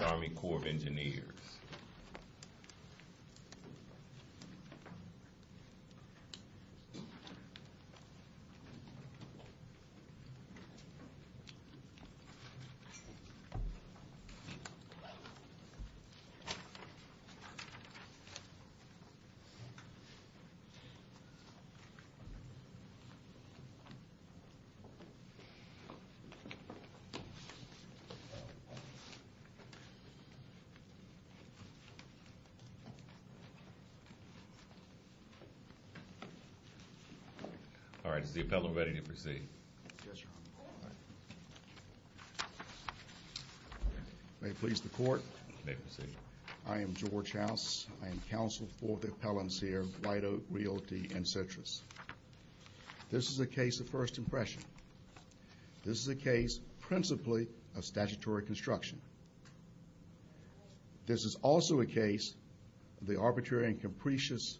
Army Corps of Engineers. I am George House. I am counsel for the appellants here, White Oak Realty, and Citrus. This is a case of first impression. This is a case principally of statutory construction. This is also a case of the arbitrary and capricious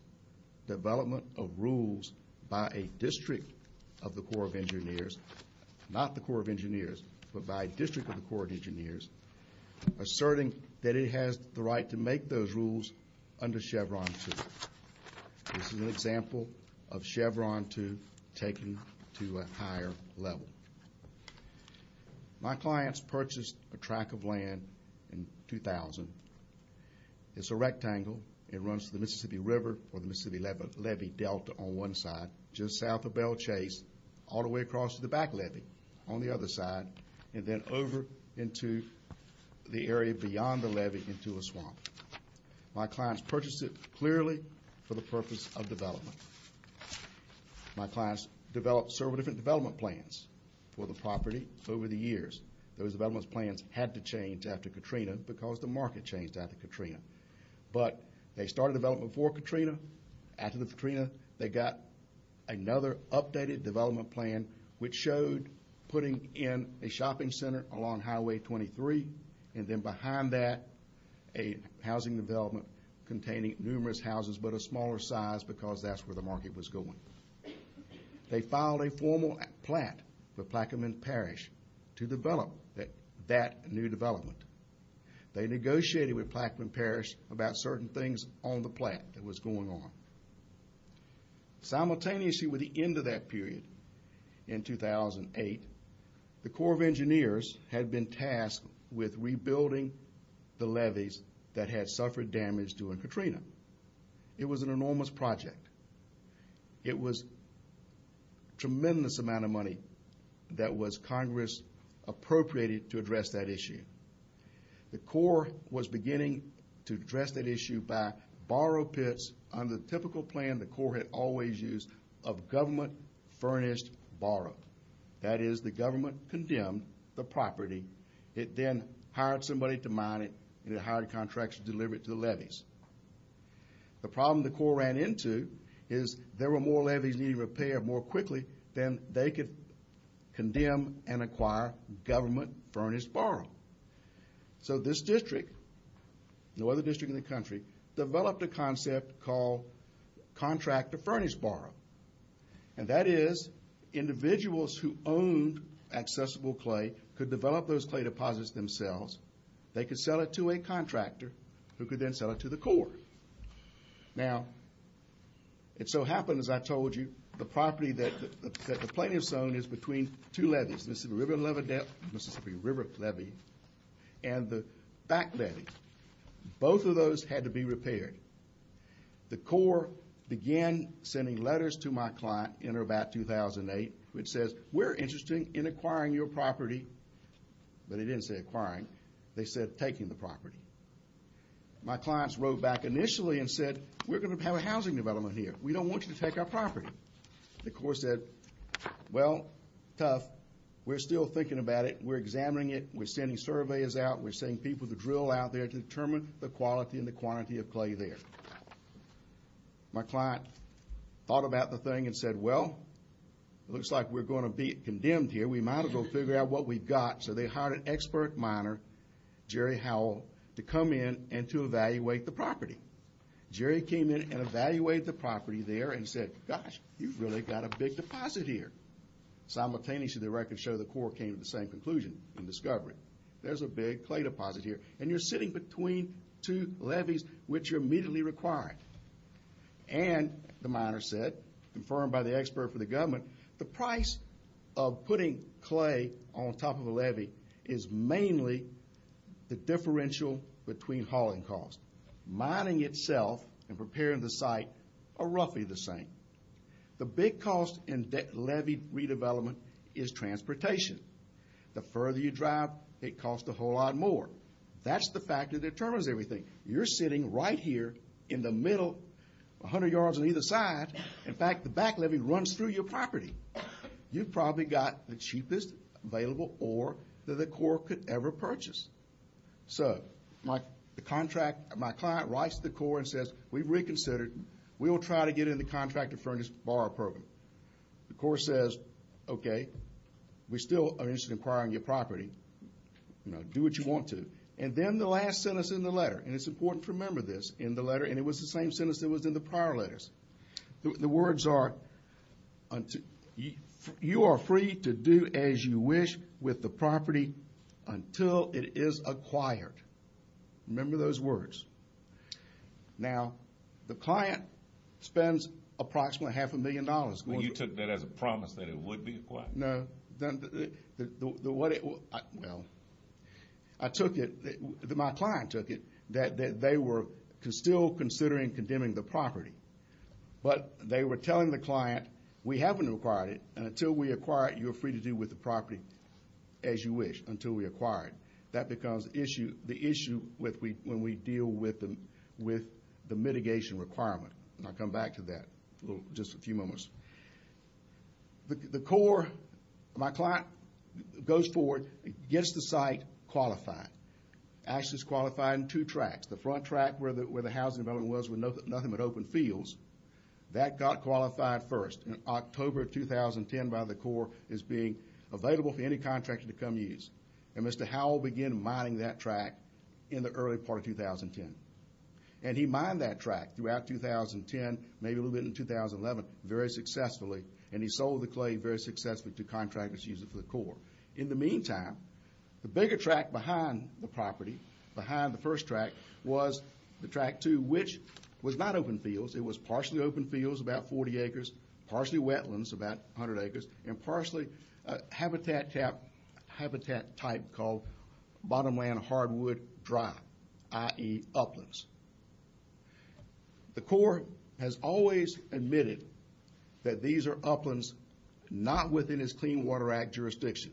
development of rules by a district of the Corps of Engineers, not the Corps of Engineers, but by a district of the Corps of Engineers, asserting that it has the right to make those rules under Chevron 2. This is an example of Chevron 2 taken to a higher level. My clients purchased a track of land in 2000. It's a rectangle. It runs to the Mississippi River or the Mississippi Levee Delta on one side, just south of Belle Chase, all the way across to the back levee on the other side, and then over into the area beyond the levee into a swamp. My clients purchased it clearly for the purpose of development. My clients developed several different development plans for the property over the years. Those development plans had to change after Katrina because the market changed after Katrina. But they started development for Katrina. After Katrina, they got another updated development plan which showed putting in a shopping center along Highway 23, and then behind that a housing development containing numerous houses but of a smaller size because that's where the market was going. They filed a formal plat for Plaquemine Parish to develop that new development. They negotiated with Plaquemine Parish about certain things on the plat that was going on. Simultaneously with the end of that period in 2008, the Corps of Engineers had been tasked with rebuilding the levees that had suffered damage during Katrina. It was an enormous project. It was a tremendous amount of money that was Congress appropriated to address that issue. The Corps was beginning to address that issue by borrow pits on the typical plan the Corps had always used of government furnished borrow. That is, the government condemned the property. It then made contracts to deliver it to the levees. The problem the Corps ran into is there were more levees needing repair more quickly than they could condemn and acquire government furnished borrow. So this district, no other district in the country, developed a concept called contractor furnished borrow. And that is individuals who owned accessible clay could sell it to a contractor who could then sell it to the Corps. Now, it so happened, as I told you, the property that the plaintiffs owned is between two levees, Mississippi River levee and the back levee. Both of those had to be repaired. The Corps began sending letters to my client in or about 2008, which says, we're interested in acquiring your property. But it didn't say acquiring. They said taking the property. My clients wrote back initially and said, we're going to have a housing development here. We don't want you to take our property. The Corps said, well, tough. We're still thinking about it. We're examining it. We're sending surveyors out. We're sending people to drill out there to determine the quality and quantity of clay there. My client thought about the thing and said, well, it looks like we're going to be condemned here. We might as well figure out what we've got. So they hired an expert miner, Jerry Howell, to come in and to evaluate the property. Jerry came in and evaluated the property there and said, gosh, you've really got a big deposit here. Simultaneously, the records show the Corps came to the same conclusion in discovery. There's a big clay deposit here. And you're sitting between two levees, which you're immediately requiring. And the miner said, confirmed by the expert for the government, the price of putting clay on top of a levee is mainly the differential between hauling costs. Mining itself and preparing the site are roughly the same. The big cost in levee redevelopment is transportation. The further you drive, it costs a whole lot more. That's the factor that determines everything. You're sitting right here in the middle, 100 yards on either side. In fact, the back levee runs through your property. You've probably got the cheapest available ore that the Corps could ever purchase. So my client writes to the Corps and says, we've reconsidered. We'll try to get in the contractor furnace borrow program. The Corps says, okay, we still are And it's important to remember this in the letter. And it was the same sentence that was in the prior letters. The words are, you are free to do as you wish with the property until it is acquired. Remember those words. Now, the client spends approximately half a million dollars. But you took that as a promise that it would be acquired. Well, I took it, my client took it, that they were still considering condemning the property. But they were telling the client, we haven't acquired it. And until we acquire it, you're free to do with the property as you wish until we acquire it. That becomes the issue when we deal with the mitigation requirement. And I'll come back to that in just a few moments. The Corps, my client goes forward, gets the site qualified. Actually, it's qualified in two tracks. The front track where the housing development was with nothing but open fields, that got qualified first in October 2010 by the Corps as being available for any contractor to come use. And Mr. Howell began mining that track in the early part of 2010. And he mined that track throughout 2010, maybe a little bit in 2011, very successfully. And he sold the clay very successfully to contractors using it for the Corps. In the meantime, the bigger track behind the property, behind the first track, was the track two, which was not open fields. It was partially open fields, about 40 acres, partially wetlands, about 100 acres, and partially habitat type called bottomland hardwood dry, i.e. that these are uplands not within its Clean Water Act jurisdiction.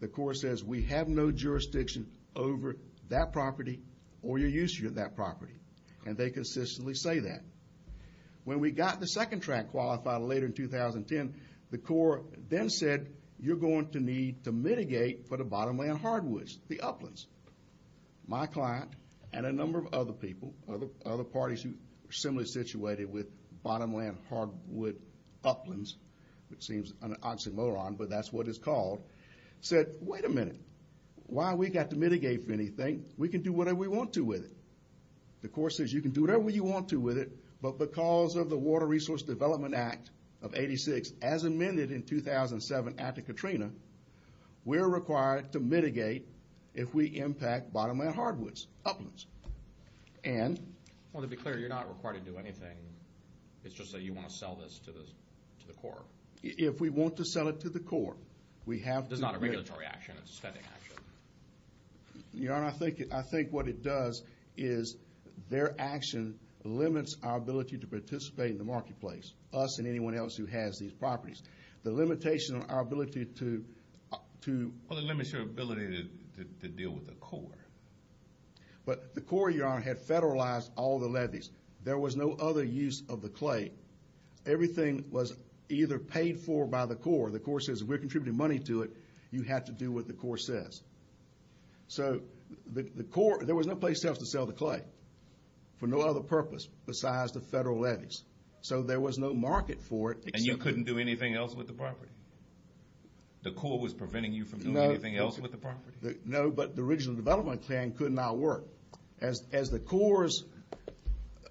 The Corps says, we have no jurisdiction over that property or your use of that property. And they consistently say that. When we got the second track qualified later in 2010, the Corps then said, you're going to need to mitigate for the bottomland hardwoods, the uplands. My client and a number of other people, other parties who are similarly situated with bottomland hardwood uplands, which seems an oxymoron, but that's what it's called, said, wait a minute. Why have we got to mitigate for anything? We can do whatever we want to with it. The Corps says, you can do whatever you want to with it, but because of the Water Resource Development Act of 86, as amended in 2007 after Katrina, we're required to mitigate if we impact bottomland hardwoods, uplands. And? Well, to be clear, you're not required to do anything. It's just that you want to sell this to the Corps. If we want to sell it to the Corps, we have to. It's not a regulatory action. It's a spending action. Your Honor, I think what it does is their action limits our ability to participate in the marketplace, us and anyone else who has these properties. The limitation on our ability to... Well, it limits your ability to deal with the Corps. But the Corps, Your Honor, had federalized all the levies. There was no other use of the clay. Everything was either paid for by the Corps. The Corps says if we're contributing money to it, you have to do what the Corps says. So the Corps, there was no place else to sell the clay for no other purpose besides the federal levies. So there was no market for it. And you couldn't do anything else with the property? The Corps was preventing you from doing anything else with the property? No, but the original development plan could not work. As the Corps'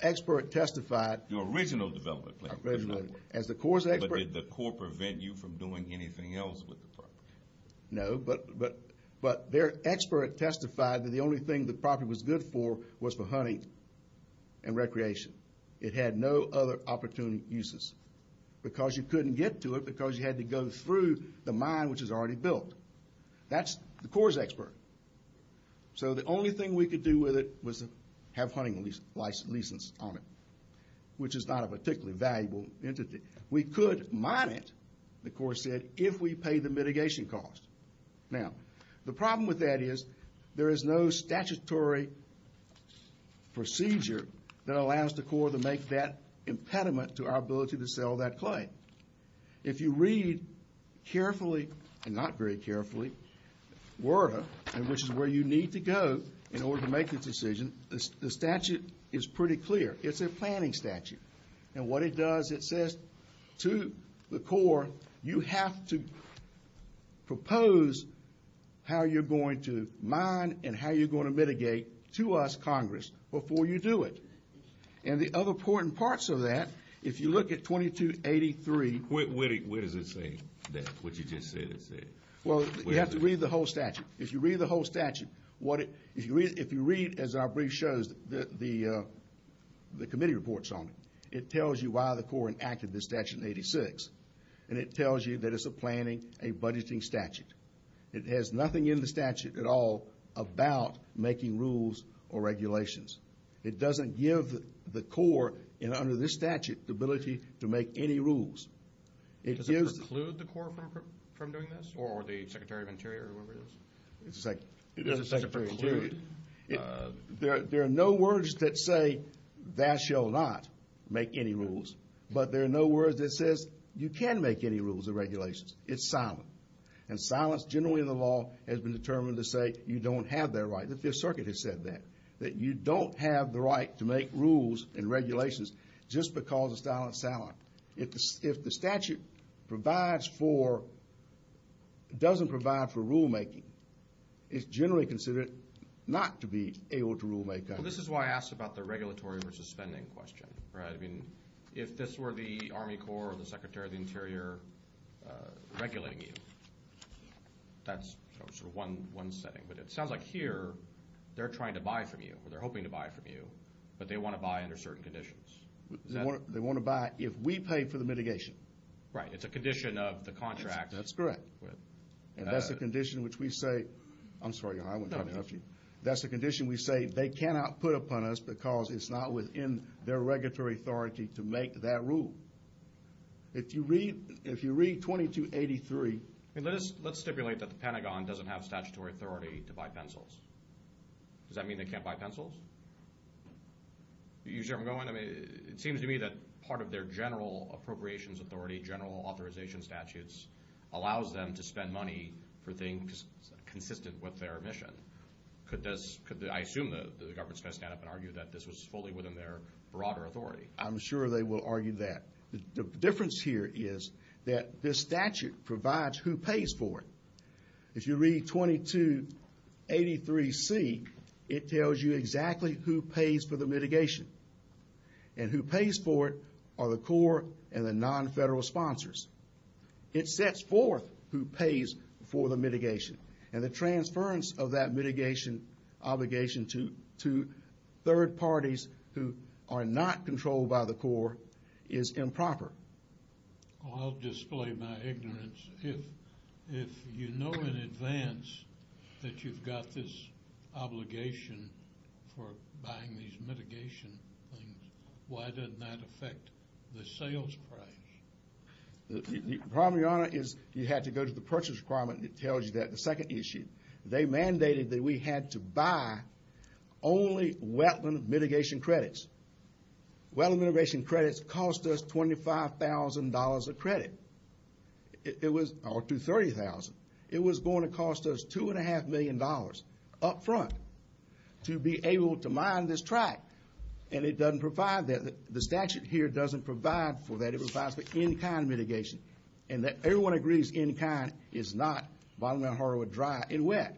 expert testified... Your original development plan could not work. But did the Corps prevent you from doing anything else with the property? No, but their expert testified that the only thing the property was good for was for hunting and recreation. It had no other opportunity uses. Because you couldn't get to it because you had to go through the mine which was already built. That's the Corps' expert. So the only thing we could do with it was have hunting license on it, which is not a particularly valuable entity. We could mine it, the Corps said, if we paid the mitigation cost. Now, the problem with that is there is no statutory procedure that allows the Corps to make that impediment to our ability to sell that clay. If you read carefully, and not very carefully, WERDA, which is where you need to go in order to make this decision, the statute is pretty clear. It's a planning statute. And what it does, it says to the Corps, you have to propose how you're going to mine and how you're going to mitigate to us, Congress, before you do it. And the other important parts of that, if you look at 2283... What does it say, what you just said? Well, you have to read the whole statute. If you read the whole statute, if you read, as our brief shows, the committee reports on it, it tells you why the Corps enacted this statute in 1986. And it tells you that it's a planning, a budgeting statute. It has nothing in the statute at all about making rules or regulations. It doesn't give the Corps, under this statute, the ability to make any rules. Does it preclude the Corps from doing this, or the Secretary of Interior, or whoever it is? It doesn't preclude it. There are no words that say, that shall not make any rules. But there are no words that says, you can make any rules or regulations. It's silent. And silence, generally in the law, has been determined to say you don't have that right. The Fifth Circuit has said that, that you don't have the right to make rules and regulations just because it's silent. If the statute provides for, doesn't provide for rulemaking, it's generally considered not to be able to rulemake. Well, this is why I asked about the regulatory versus spending question. I mean, if this were the Army Corps or the Secretary of the Interior regulating you, that's sort of one setting. But it sounds like here, they're trying to buy from you, or they're hoping to buy from you, but they want to buy under certain conditions. They want to buy if we pay for the mitigation. Right. It's a condition of the contract. That's correct. And that's the condition in which we say they cannot put upon us because it's not within their regulatory authority to make that rule. If you read 2283. Let's stipulate that the Pentagon doesn't have statutory authority to buy pencils. Does that mean they can't buy pencils? You see where I'm going? I mean, it seems to me that part of their general appropriations authority, general authorization statutes, allows them to spend money for things consistent with their mission. I assume the government's going to stand up and argue that this was fully within their broader authority. I'm sure they will argue that. The difference here is that this statute provides who pays for it. If you read 2283C, it tells you exactly who pays for the mitigation, and who pays for it are the Corps and the non-federal sponsors. It sets forth who pays for the mitigation, and the transference of that mitigation obligation to third parties who are not controlled by the Corps is improper. I'll display my ignorance. If you know in advance that you've got this obligation for buying these mitigation things, why didn't that affect the sales price? The problem, Your Honor, is you had to go to the purchase requirement, and it tells you that. The second issue, they mandated that we had to buy only wetland mitigation credits. Wetland mitigation credits cost us $25,000 a credit. It was up to $30,000. It was going to cost us $2.5 million up front to be able to mine this track, and it doesn't provide that. The statute here doesn't provide for that. It provides for in-kind mitigation. And everyone agrees in-kind is not bottom-down hardwood dry and wet.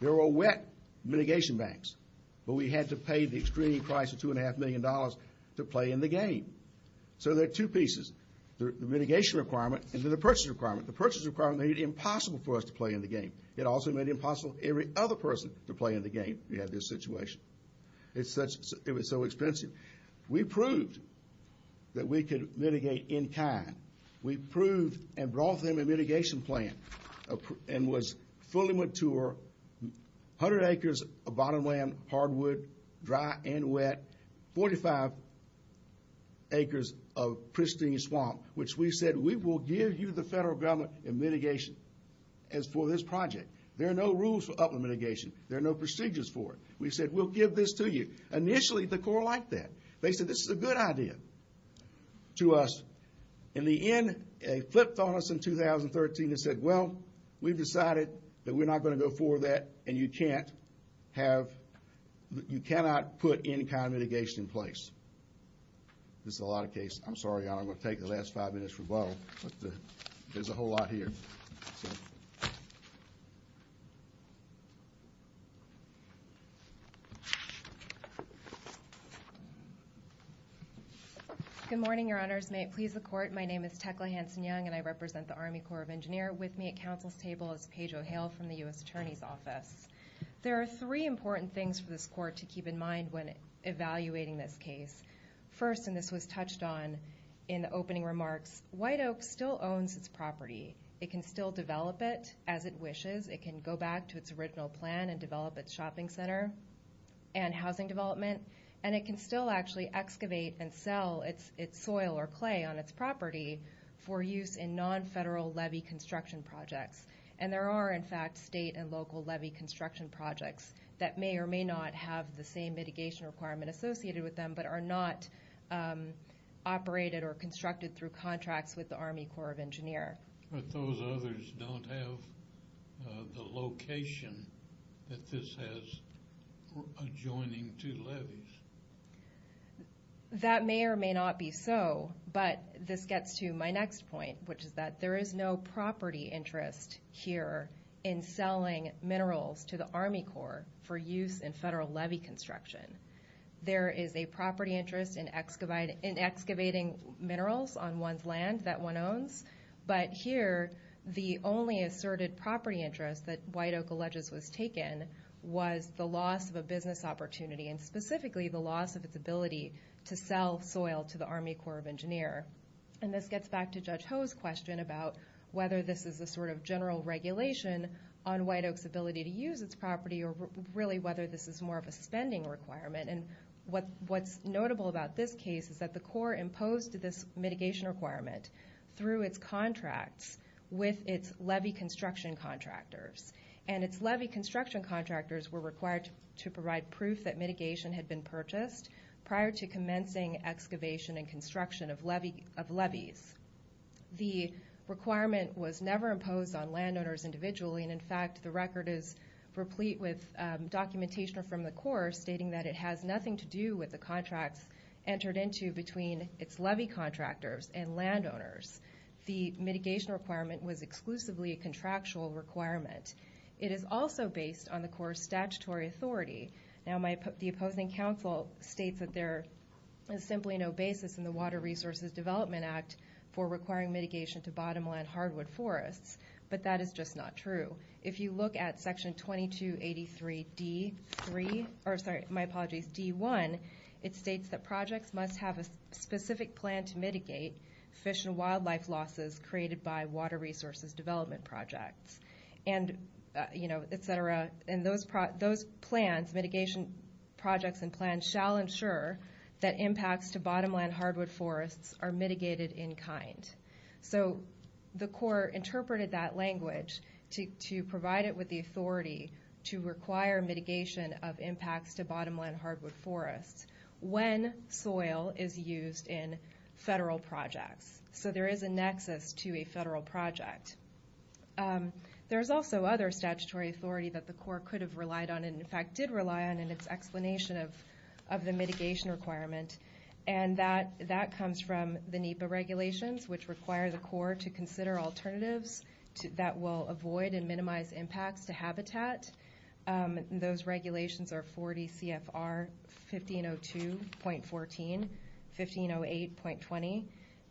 There were wet mitigation banks, but we had to pay the extreme price of $2.5 million to play in the game. So there are two pieces, the mitigation requirement and then the purchase requirement. The purchase requirement made it impossible for us to play in the game. It also made it impossible for every other person to play in the game if you had this situation. It was so expensive. We proved that we could mitigate in-kind. We proved and brought them a mitigation plan and was fully mature, 100 acres of bottomland hardwood dry and wet, 45 acres of pristine swamp, which we said we will give you the federal government in mitigation as for this project. There are no rules for upland mitigation. There are no procedures for it. We said we'll give this to you. Initially, the Corps liked that. They said this is a good idea to us. In the end, they flipped on us in 2013 and said, well, we've decided that we're not going to go forward with that and you cannot put in-kind mitigation in place. This is a lot of case. I'm sorry, I'm going to take the last five minutes for both. There's a whole lot here. Good morning, Your Honors. May it please the Court. My name is Tecla Hanson-Young, and I represent the Army Corps of Engineers. With me at Council's table is Paige O'Hale from the U.S. Attorney's Office. There are three important things for this Court to keep in mind when evaluating this case. First, and this was touched on in the opening remarks, White Oak still owns its property. It can still develop it as it wishes. It can go back to its original plan and develop its shopping center and housing development, and it can still actually excavate and sell its soil or clay on its property for use in non-federal levy construction projects. And there are, in fact, state and local levy construction projects that may or may not have the same mitigation requirement associated with them but are not operated or constructed through contracts with the Army Corps of Engineers. But those others don't have the location that this has adjoining to levies. That may or may not be so, but this gets to my next point, which is that there is no property interest here in selling minerals to the Army Corps for use in federal levy construction. There is a property interest in excavating minerals on one's land that one owns, but here the only asserted property interest that White Oak alleges was taken was the loss of a business opportunity and specifically the loss of its ability to sell soil to the Army Corps of Engineers. And this gets back to Judge Ho's question about whether this is a sort of general regulation on White Oak's ability to use its property or really whether this is more of a spending requirement. And what's notable about this case is that the Corps imposed this mitigation requirement through its contracts with its levy construction contractors. And its levy construction contractors were required to provide proof that mitigation had been purchased prior to commencing excavation and construction of levies. The requirement was never imposed on landowners individually, and in fact the record is replete with documentation from the Corps stating that it has nothing to do with the contracts entered into between its levy contractors and landowners. The mitigation requirement was exclusively a contractual requirement. It is also based on the Corps' statutory authority. Now the opposing counsel states that there is simply no basis in the Water Resources Development Act for requiring mitigation to bottomland hardwood forests, but that is just not true. If you look at Section 2283D1, it states that projects must have a specific plan to mitigate fish and wildlife losses created by water resources development projects. And those plans, mitigation projects and plans, shall ensure that impacts to bottomland hardwood forests are mitigated in kind. So the Corps interpreted that language to provide it with the authority to require mitigation of impacts to bottomland hardwood forests when soil is used in federal projects. So there is a nexus to a federal project. There is also other statutory authority that the Corps could have relied on, and in fact did rely on in its explanation of the mitigation requirement, and that comes from the NEPA regulations, which require the Corps to consider alternatives that will avoid and minimize impacts to habitat. Those regulations are 40 CFR 1502.14, 1508.20,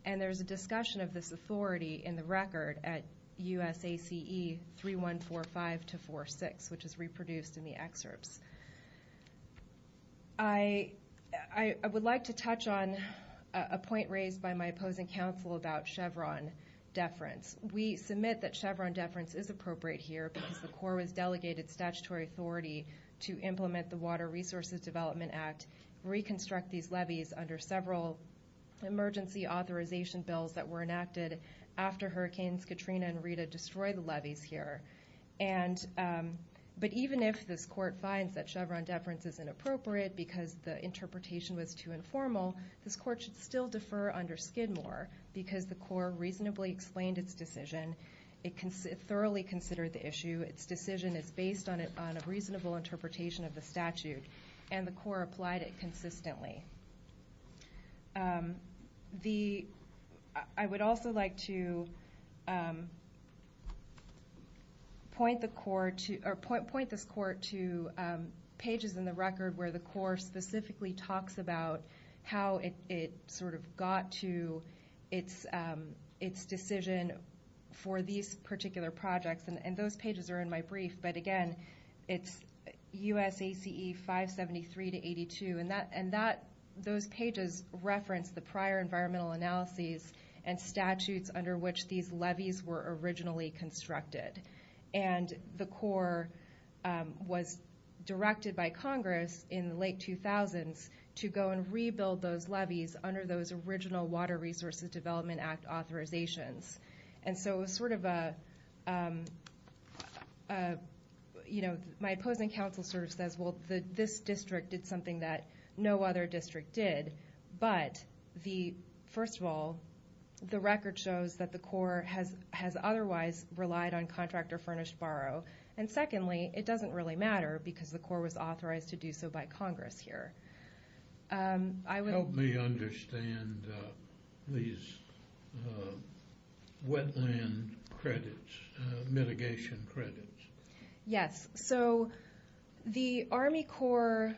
and there is a discussion of this authority in the record at USACE 3145-46, which is reproduced in the excerpts. I would like to touch on a point raised by my opposing counsel about Chevron deference. We submit that Chevron deference is appropriate here because the Corps has delegated statutory authority to implement the Water Resources Development Act, reconstruct these levees under several emergency authorization bills that were enacted after Hurricanes Katrina and Rita destroyed the levees here. But even if this Court finds that Chevron deference is inappropriate because the interpretation was too informal, this Court should still defer under Skidmore because the Corps reasonably explained its decision. It thoroughly considered the issue. Its decision is based on a reasonable interpretation of the statute, and the Corps applied it consistently. I would also like to point this Court to pages in the record where the Corps specifically talks about how it sort of got to its decision for these particular projects, and those pages are in my brief. But again, it's USACE 573-82, and those pages reference the prior environmental analyses and statutes under which these levees were originally constructed. And the Corps was directed by Congress in the late 2000s to go and rebuild those levees under those original Water Resources Development Act authorizations. And so it was sort of a, you know, my opposing counsel sort of says, well, this district did something that no other district did. But first of all, the record shows that the Corps has otherwise relied on contract or furnished borrow. And secondly, it doesn't really matter because the Corps was authorized to do so by Congress here. Help me understand these wetland credits, mitigation credits. Yes. So the Army Corps,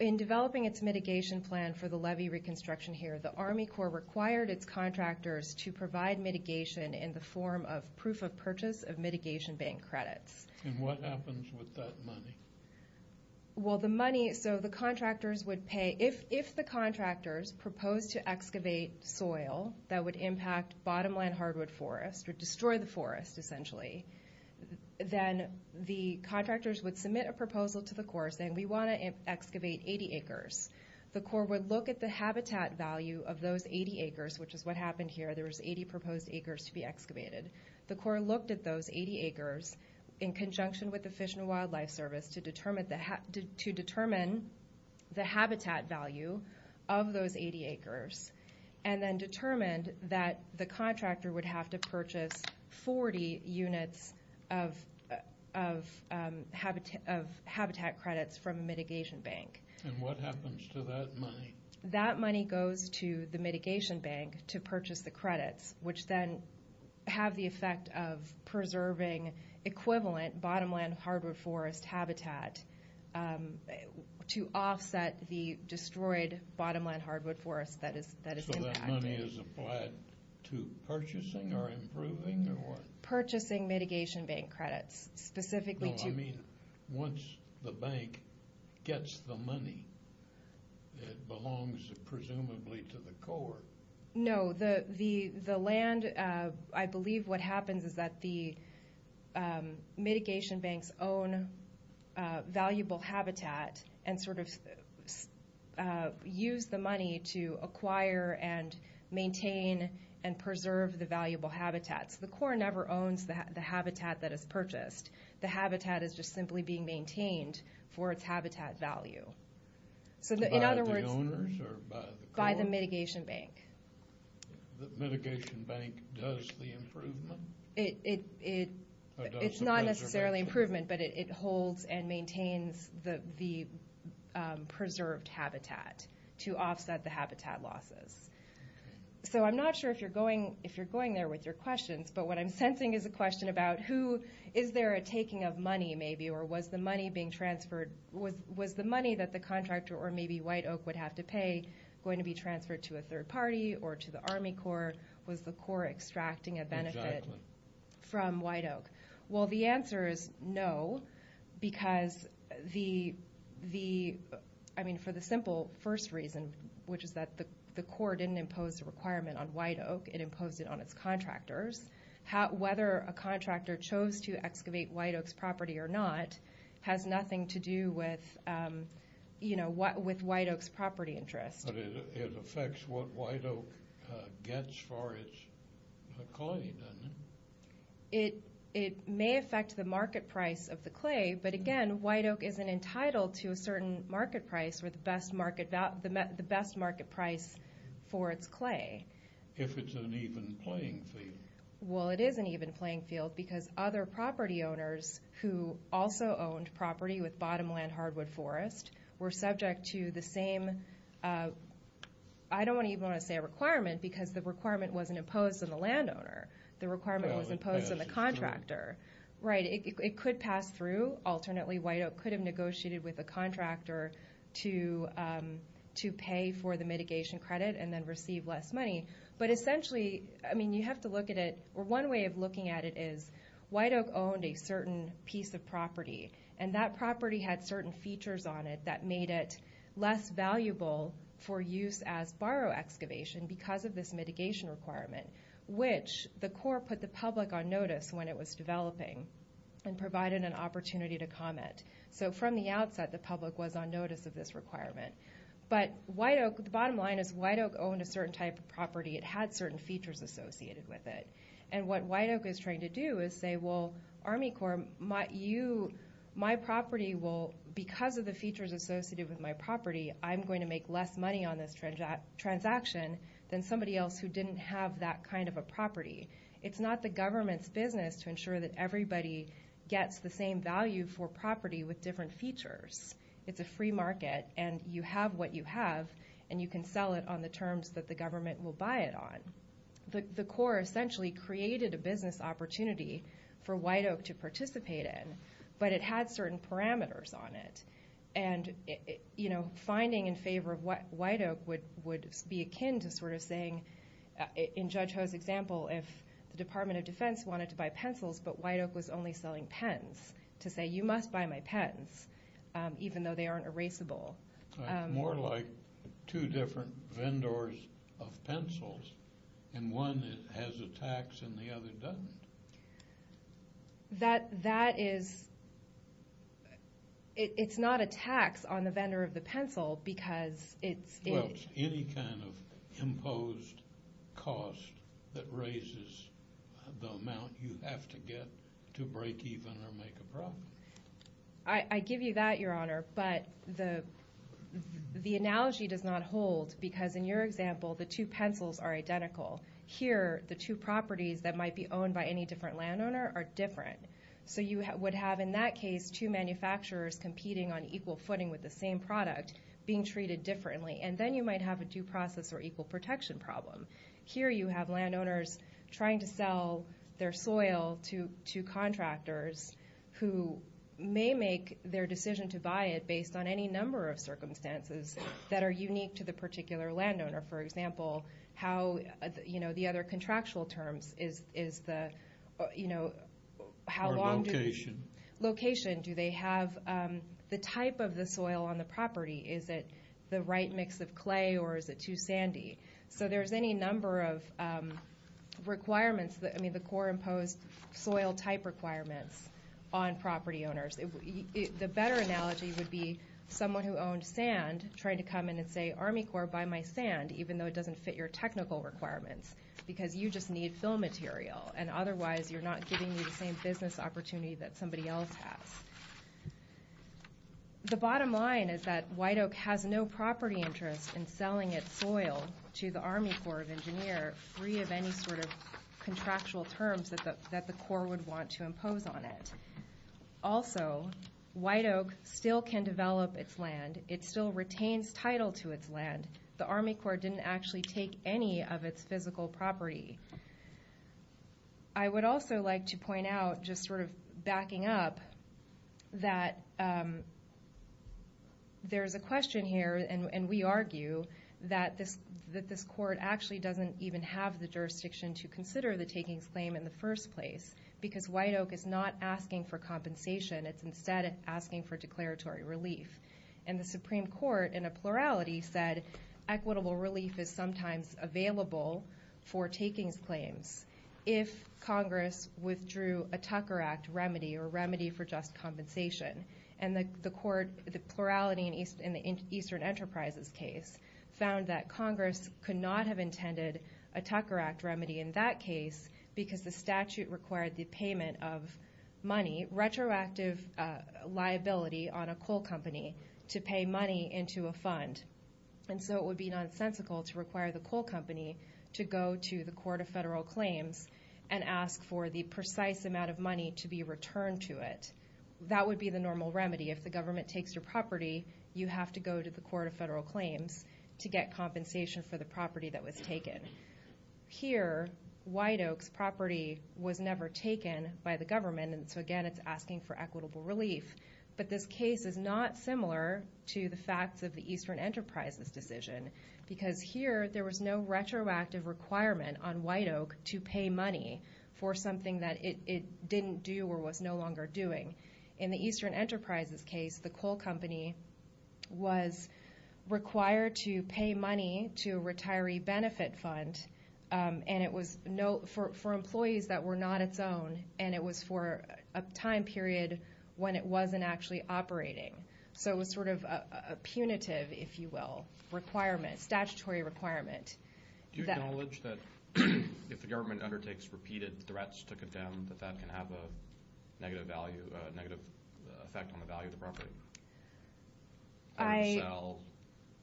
in developing its mitigation plan for the levee reconstruction here, the Army Corps required its contractors to provide mitigation in the form of proof of purchase of mitigation bank credits. And what happens with that money? Well, the money, so the contractors would pay, if the contractors proposed to excavate soil that would impact bottomland hardwood forest or destroy the forest essentially, then the contractors would submit a proposal to the Corps saying we want to excavate 80 acres. The Corps would look at the habitat value of those 80 acres, which is what happened here. There was 80 proposed acres to be excavated. The Corps looked at those 80 acres in conjunction with the Fish and Wildlife Service to determine the habitat value of those 80 acres and then determined that the contractor would have to purchase 40 units of habitat credits from a mitigation bank. And what happens to that money? That money goes to the mitigation bank to purchase the credits, which then have the effect of preserving equivalent bottomland hardwood forest habitat to offset the destroyed bottomland hardwood forest that is impacted. So that money is applied to purchasing or improving or what? Purchasing mitigation bank credits, specifically to... I mean, once the bank gets the money, it belongs presumably to the Corps. No, the land, I believe what happens is that the mitigation banks own valuable habitat and sort of use the money to acquire and maintain and preserve the valuable habitats. The Corps never owns the habitat that is purchased. The habitat is just simply being maintained for its habitat value. By the owners or by the Corps? By the mitigation bank. The mitigation bank does the improvement? It's not necessarily improvement, but it holds and maintains the preserved habitat to offset the habitat losses. So I'm not sure if you're going there with your questions, but what I'm sensing is a question about who is there a taking of money maybe or was the money being transferred, was the money that the contractor or maybe White Oak would have to pay going to be transferred to a third party or to the Army Corps? Was the Corps extracting a benefit from White Oak? Well, the answer is no, because the, I mean, for the simple first reason, which is that the Corps didn't impose a requirement on White Oak. It imposed it on its contractors. Whether a contractor chose to excavate White Oak's property or not has nothing to do with, you know, with White Oak's property interest. But it affects what White Oak gets for its clay, doesn't it? It may affect the market price of the clay, but again, White Oak isn't entitled to a certain market price or the best market price for its clay. If it's an even playing field. Well, it is an even playing field, because other property owners who also owned property with bottomland hardwood forest were subject to the same, I don't even want to say a requirement, because the requirement wasn't imposed on the landowner. The requirement was imposed on the contractor. Right, it could pass through. Alternately, White Oak could have negotiated with a contractor to pay for the mitigation credit and then receive less money. But essentially, I mean, you have to look at it, or one way of looking at it is White Oak owned a certain piece of property, and that property had certain features on it that made it less valuable for use as barrow excavation because of this mitigation requirement, which the Corps put the public on notice when it was developing and provided an opportunity to comment. So from the outset, the public was on notice of this requirement. But White Oak, the bottom line is White Oak owned a certain type of property. It had certain features associated with it. And what White Oak is trying to do is say, well, Army Corps, my property will, because of the features associated with my property, I'm going to make less money on this transaction than somebody else who didn't have that kind of a property. It's not the government's business to ensure that everybody gets the same value for property with different features. It's a free market, and you have what you have, and you can sell it on the terms that the government will buy it on. The Corps essentially created a business opportunity for White Oak to participate in, but it had certain parameters on it. And, you know, finding in favor of White Oak would be akin to sort of saying, in Judge Ho's example, if the Department of Defense wanted to buy pencils but White Oak was only selling pens, to say, you must buy my pens, even though they aren't erasable. It's more like two different vendors of pencils, and one has a tax and the other doesn't. That is – it's not a tax on the vendor of the pencil because it's – Well, it's any kind of imposed cost that raises the amount you have to get to break even or make a profit. I give you that, Your Honor, but the analogy does not hold because, in your example, the two pencils are identical. Here, the two properties that might be owned by any different landowner are different. So you would have, in that case, two manufacturers competing on equal footing with the same product, being treated differently, and then you might have a due process or equal protection problem. Here you have landowners trying to sell their soil to contractors who may make their decision to buy it based on any number of circumstances that are unique to the particular landowner. For example, how – you know, the other contractual terms is the – you know, how long do – Or location. Location. Do they have the type of the soil on the property? Is it the right mix of clay, or is it too sandy? So there's any number of requirements – I mean, the core imposed soil type requirements on property owners. The better analogy would be someone who owned sand trying to come in and say, Army Corps, buy my sand, even though it doesn't fit your technical requirements, because you just need fill material, and otherwise you're not giving me the same business opportunity that somebody else has. The bottom line is that White Oak has no property interest in selling its soil to the Army Corps of Engineers, free of any sort of contractual terms that the Corps would want to impose on it. Also, White Oak still can develop its land. It still retains title to its land. The Army Corps didn't actually take any of its physical property. I would also like to point out, just sort of backing up, that there's a question here, and we argue that this court actually doesn't even have the jurisdiction to consider the takings claim in the first place, because White Oak is not asking for compensation. It's instead asking for declaratory relief. And the Supreme Court, in a plurality, said equitable relief is sometimes available for takings claims if Congress withdrew a Tucker Act remedy or remedy for just compensation. And the court, the plurality in the Eastern Enterprises case, found that Congress could not have intended a Tucker Act remedy in that case because the statute required the payment of money, retroactive liability on a coal company, to pay money into a fund. And so it would be nonsensical to require the coal company to go to the Court of Federal Claims and ask for the precise amount of money to be returned to it. That would be the normal remedy. If the government takes your property, you have to go to the Court of Federal Claims to get compensation for the property that was taken. Here, White Oak's property was never taken by the government, and so again it's asking for equitable relief. But this case is not similar to the facts of the Eastern Enterprises decision because here there was no retroactive requirement on White Oak to pay money for something that it didn't do or was no longer doing. In the Eastern Enterprises case, the coal company was required to pay money to a retiree benefit fund, and it was for employees that were not its own, and it was for a time period when it wasn't actually operating. So it was sort of a punitive, if you will, requirement, statutory requirement. Do you acknowledge that if the government undertakes repeated threats to condemn, that that can have a negative effect on the value of the property?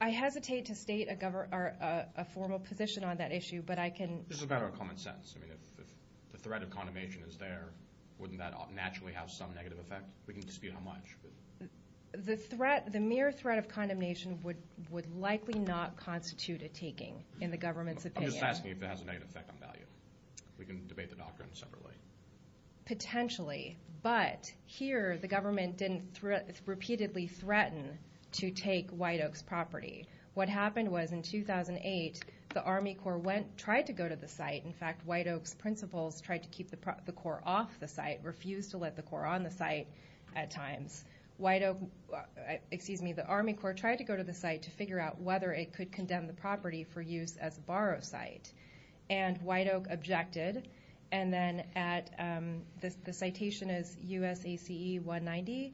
I hesitate to state a formal position on that issue, but I can. This is about our common sense. I mean, if the threat of condemnation is there, wouldn't that naturally have some negative effect? We can dispute how much. The mere threat of condemnation would likely not constitute a taking in the government's opinion. I'm just asking if it has a negative effect on value. We can debate the doctrine separately. Potentially, but here the government didn't repeatedly threaten to take White Oak's property. What happened was in 2008, the Army Corps tried to go to the site. In fact, White Oak's principals tried to keep the Corps off the site, refused to let the Corps on the site at times. The Army Corps tried to go to the site to figure out whether it could condemn the property for use as a borrow site, and White Oak objected. And then the citation is USACE 190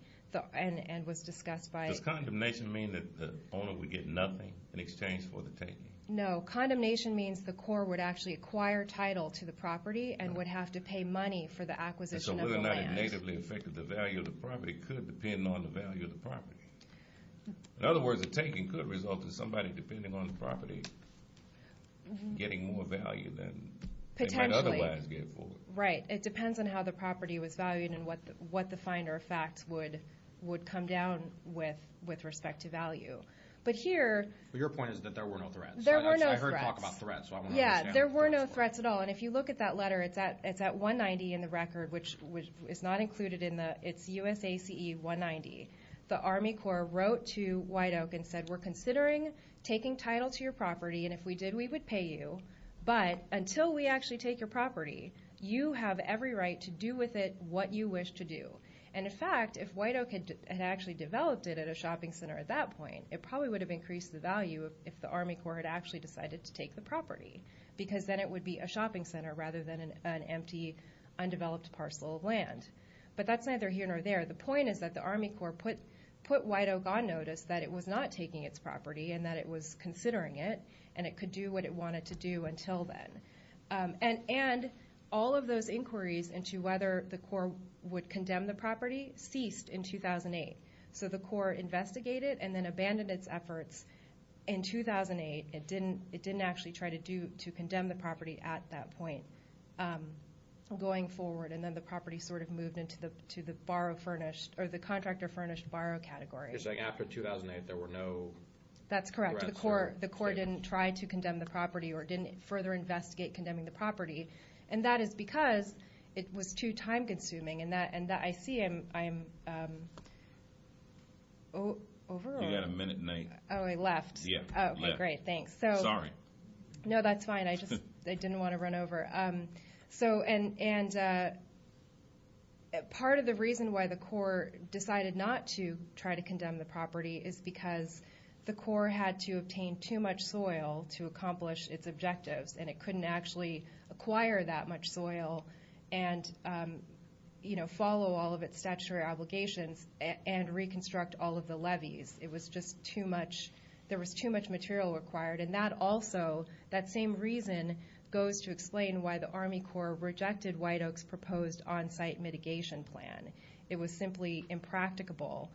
and was discussed by— Does condemnation mean that the owner would get nothing in exchange for the taking? No. Condemnation means the Corps would actually acquire title to the property and would have to pay money for the acquisition of the land. So whether or not it negatively affected the value of the property could depend on the value of the property. In other words, the taking could result in somebody, depending on the property, getting more value than they might otherwise get for it. Potentially, right. It depends on how the property was valued and what the finder of facts would come down with with respect to value. But here— But your point is that there were no threats. There were no threats. I heard talk about threats, so I want to understand. Yeah, there were no threats at all. And if you look at that letter, it's at 190 in the record, which is not included in the— The Army Corps wrote to White Oak and said, We're considering taking title to your property, and if we did, we would pay you. But until we actually take your property, you have every right to do with it what you wish to do. And in fact, if White Oak had actually developed it at a shopping center at that point, it probably would have increased the value if the Army Corps had actually decided to take the property, because then it would be a shopping center rather than an empty, undeveloped parcel of land. But that's neither here nor there. The point is that the Army Corps put White Oak on notice that it was not taking its property and that it was considering it, and it could do what it wanted to do until then. And all of those inquiries into whether the Corps would condemn the property ceased in 2008. So the Corps investigated and then abandoned its efforts in 2008. It didn't actually try to condemn the property at that point going forward, and then the property sort of moved into the contractor-furnished borrow category. You're saying after 2008 there were no arrests or statements? That's correct. The Corps didn't try to condemn the property or didn't further investigate condemning the property. And that is because it was too time-consuming. And I see I'm over? You've got a minute and eight. Oh, I left. Yeah. Okay, great. Thanks. Sorry. No, that's fine. I just didn't want to run over. And part of the reason why the Corps decided not to try to condemn the property is because the Corps had to obtain too much soil to accomplish its objectives, and it couldn't actually acquire that much soil and follow all of its statutory obligations and reconstruct all of the levees. It was just too much. There was too much material required. And that also, that same reason, goes to explain why the Army Corps rejected White Oak's proposed on-site mitigation plan. It was simply impracticable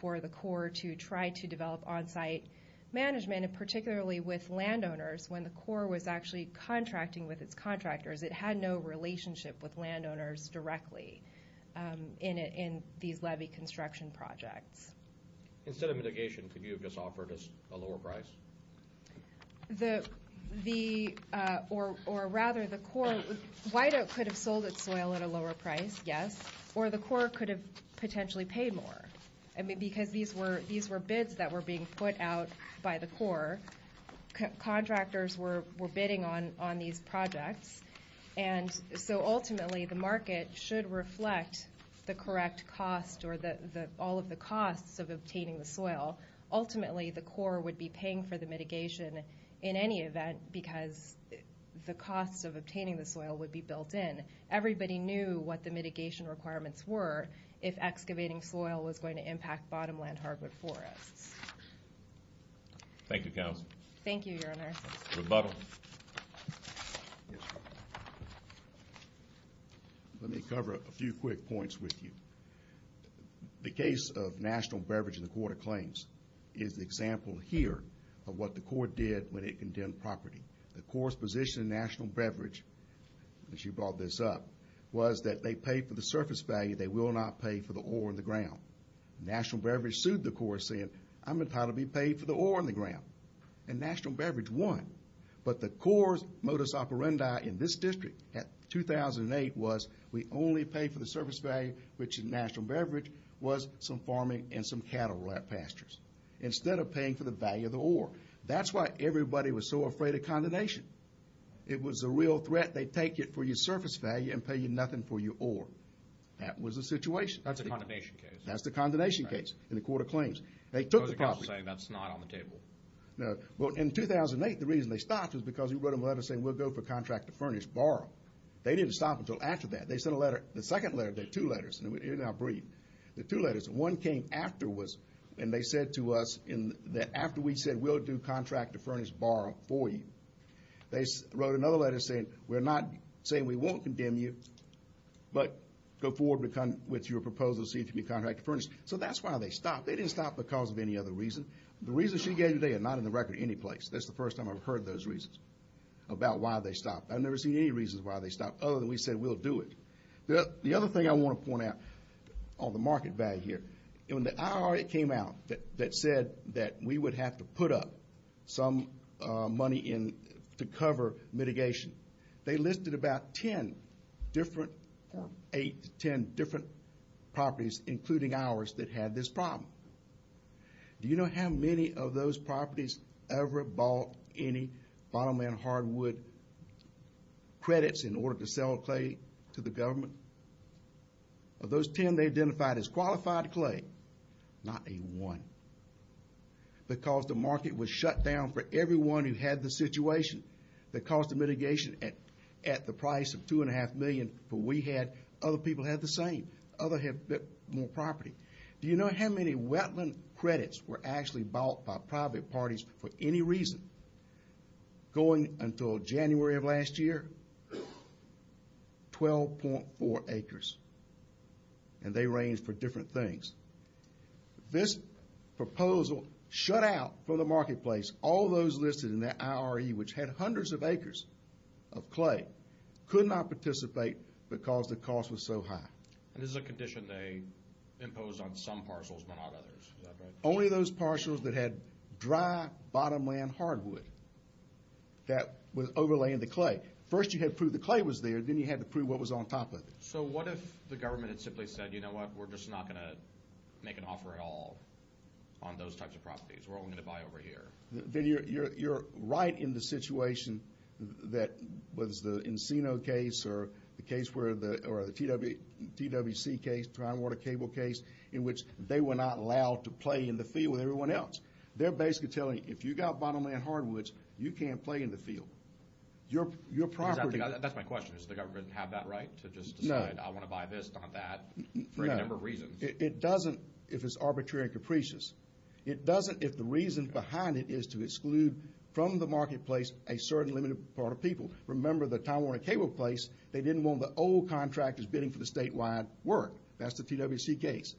for the Corps to try to develop on-site management, and particularly with landowners. When the Corps was actually contracting with its contractors, it had no relationship with landowners directly in these levee construction projects. Instead of mitigation, could you have just offered us a lower price? The, or rather the Corps, White Oak could have sold its soil at a lower price, yes, or the Corps could have potentially paid more. I mean, because these were bids that were being put out by the Corps. Contractors were bidding on these projects. And so ultimately, the market should reflect the correct cost or all of the costs of obtaining the soil. Ultimately, the Corps would be paying for the mitigation in any event because the costs of obtaining the soil would be built in. Everybody knew what the mitigation requirements were if excavating soil was going to impact bottomland hardwood forests. Thank you, Counsel. Thank you, Your Honor. Rebuttal. Let me cover a few quick points with you. The case of National Beverage in the Court of Claims is an example here of what the Corps did when it condemned property. The Corps' position in National Beverage, as you brought this up, was that they paid for the surface value. They will not pay for the ore in the ground. National Beverage sued the Corps saying, I'm entitled to be paid for the ore in the ground. And National Beverage won. But the Corps' modus operandi in this district in 2008 was, we only pay for the surface value, which in National Beverage, was some farming and some cattle pastures, instead of paying for the value of the ore. That's why everybody was so afraid of condemnation. It was a real threat. They'd take it for your surface value and pay you nothing for your ore. That was the situation. That's a condemnation case. That's the condemnation case in the Court of Claims. They took the property. So you're saying that's not on the table. No. Well, in 2008, the reason they stopped was because he wrote a letter saying, we'll go for contract to furnish, borrow. They didn't stop until after that. They sent a letter, the second letter, there are two letters. You're now breathing. There are two letters. One came afterwards, and they said to us, after we said we'll do contract to furnish, borrow for you, they wrote another letter saying, we're not saying we won't condemn you, but go forward with your proposal, see if you can be contract to furnish. So that's why they stopped. They didn't stop because of any other reason. The reasons she gave you today are not in the record any place. That's the first time I've heard those reasons about why they stopped. I've never seen any reasons why they stopped other than we said we'll do it. The other thing I want to point out on the market value here, when the IRA came out that said that we would have to put up some money to cover mitigation, they listed about ten different properties, including ours, that had this problem. Do you know how many of those properties ever bought any bottom and hardwood credits in order to sell clay to the government? Of those ten, they identified as qualified clay, not a one, because the market was shut down for everyone who had the situation that caused the mitigation at the price of $2.5 million for what we had. Other people had the same. Others had a bit more property. Do you know how many wetland credits were actually bought by private parties for any reason going until January of last year? 12.4 acres. And they ranged for different things. This proposal shut out from the marketplace all those listed in that IRE, which had hundreds of acres of clay, could not participate because the cost was so high. And this is a condition they imposed on some parcels but not others. Is that right? Only those parcels that had dry, bottomland hardwood that was overlaying the clay. First you had to prove the clay was there. Then you had to prove what was on top of it. So what if the government had simply said, you know what, we're just not going to make an offer at all on those types of properties. We're only going to buy over here. Then you're right in the situation that was the Encino case or the case where the T.W.C. case, Tidewater Cable case, in which they were not allowed to play in the field with everyone else. They're basically telling you if you've got bottomland hardwoods, you can't play in the field. Your property. That's my question. Does the government have that right to just decide I want to buy this, not that, for any number of reasons? It doesn't if it's arbitrary and capricious. It doesn't if the reason behind it is to exclude from the marketplace a certain limited part of people. Remember the Tidewater Cable place, they didn't want the old contractors bidding for the statewide work. That's the T.W.C. case.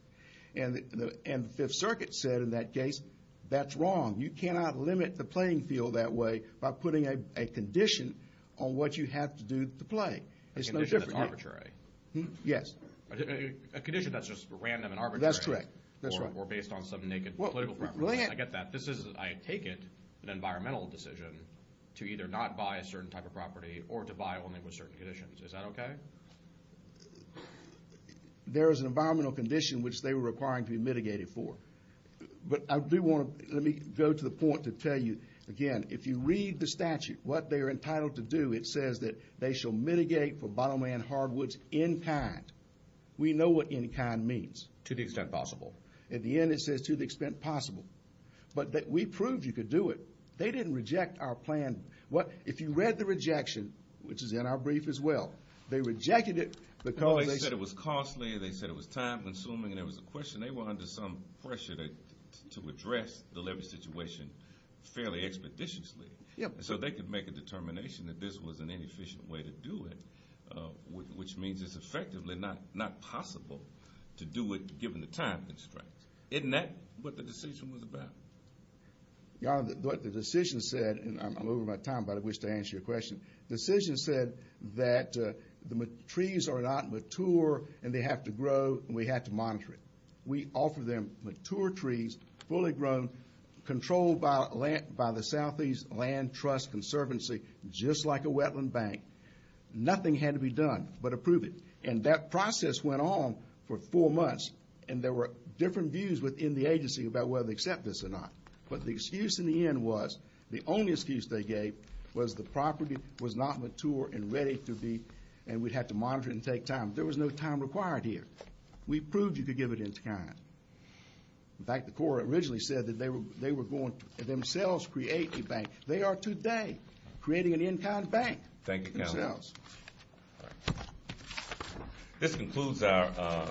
And the Fifth Circuit said in that case, that's wrong. You cannot limit the playing field that way by putting a condition on what you have to do to play. A condition that's arbitrary. Yes. A condition that's just random and arbitrary. That's correct. Or based on some naked political preference. I get that. This is, I take it, an environmental decision to either not buy a certain type of property or to buy only with certain conditions. Is that okay? There is an environmental condition which they were requiring to be mitigated for. But I do want to go to the point to tell you, again, if you read the statute, what they are entitled to do, it says that they shall mitigate for bottomland hardwoods in kind. We know what in kind means. To the extent possible. At the end it says to the extent possible. But we proved you could do it. They didn't reject our plan. If you read the rejection, which is in our brief as well, they rejected it because they said it was costly, they said it was time consuming, and there was a question. They were under some pressure to address the levee situation fairly expeditiously. So they could make a determination that this was an inefficient way to do it, which means it's effectively not possible to do it given the time constraints. Isn't that what the decision was about? What the decision said, and I'm over my time, but I wish to answer your question. The decision said that the trees are not mature and they have to grow, and we have to monitor it. We offer them mature trees, fully grown, controlled by the Southeast Land Trust Conservancy, just like a wetland bank. Nothing had to be done but approve it. And that process went on for four months, and there were different views within the agency about whether to accept this or not. But the excuse in the end was, the only excuse they gave, was the property was not mature and ready to be, and we'd have to monitor it and take time. There was no time required here. We proved you could give it in time. In fact, the Corps originally said that they were going to themselves create a bank. They are today creating an in-kind bank. Thank you, Counsel. Good sales. This concludes our.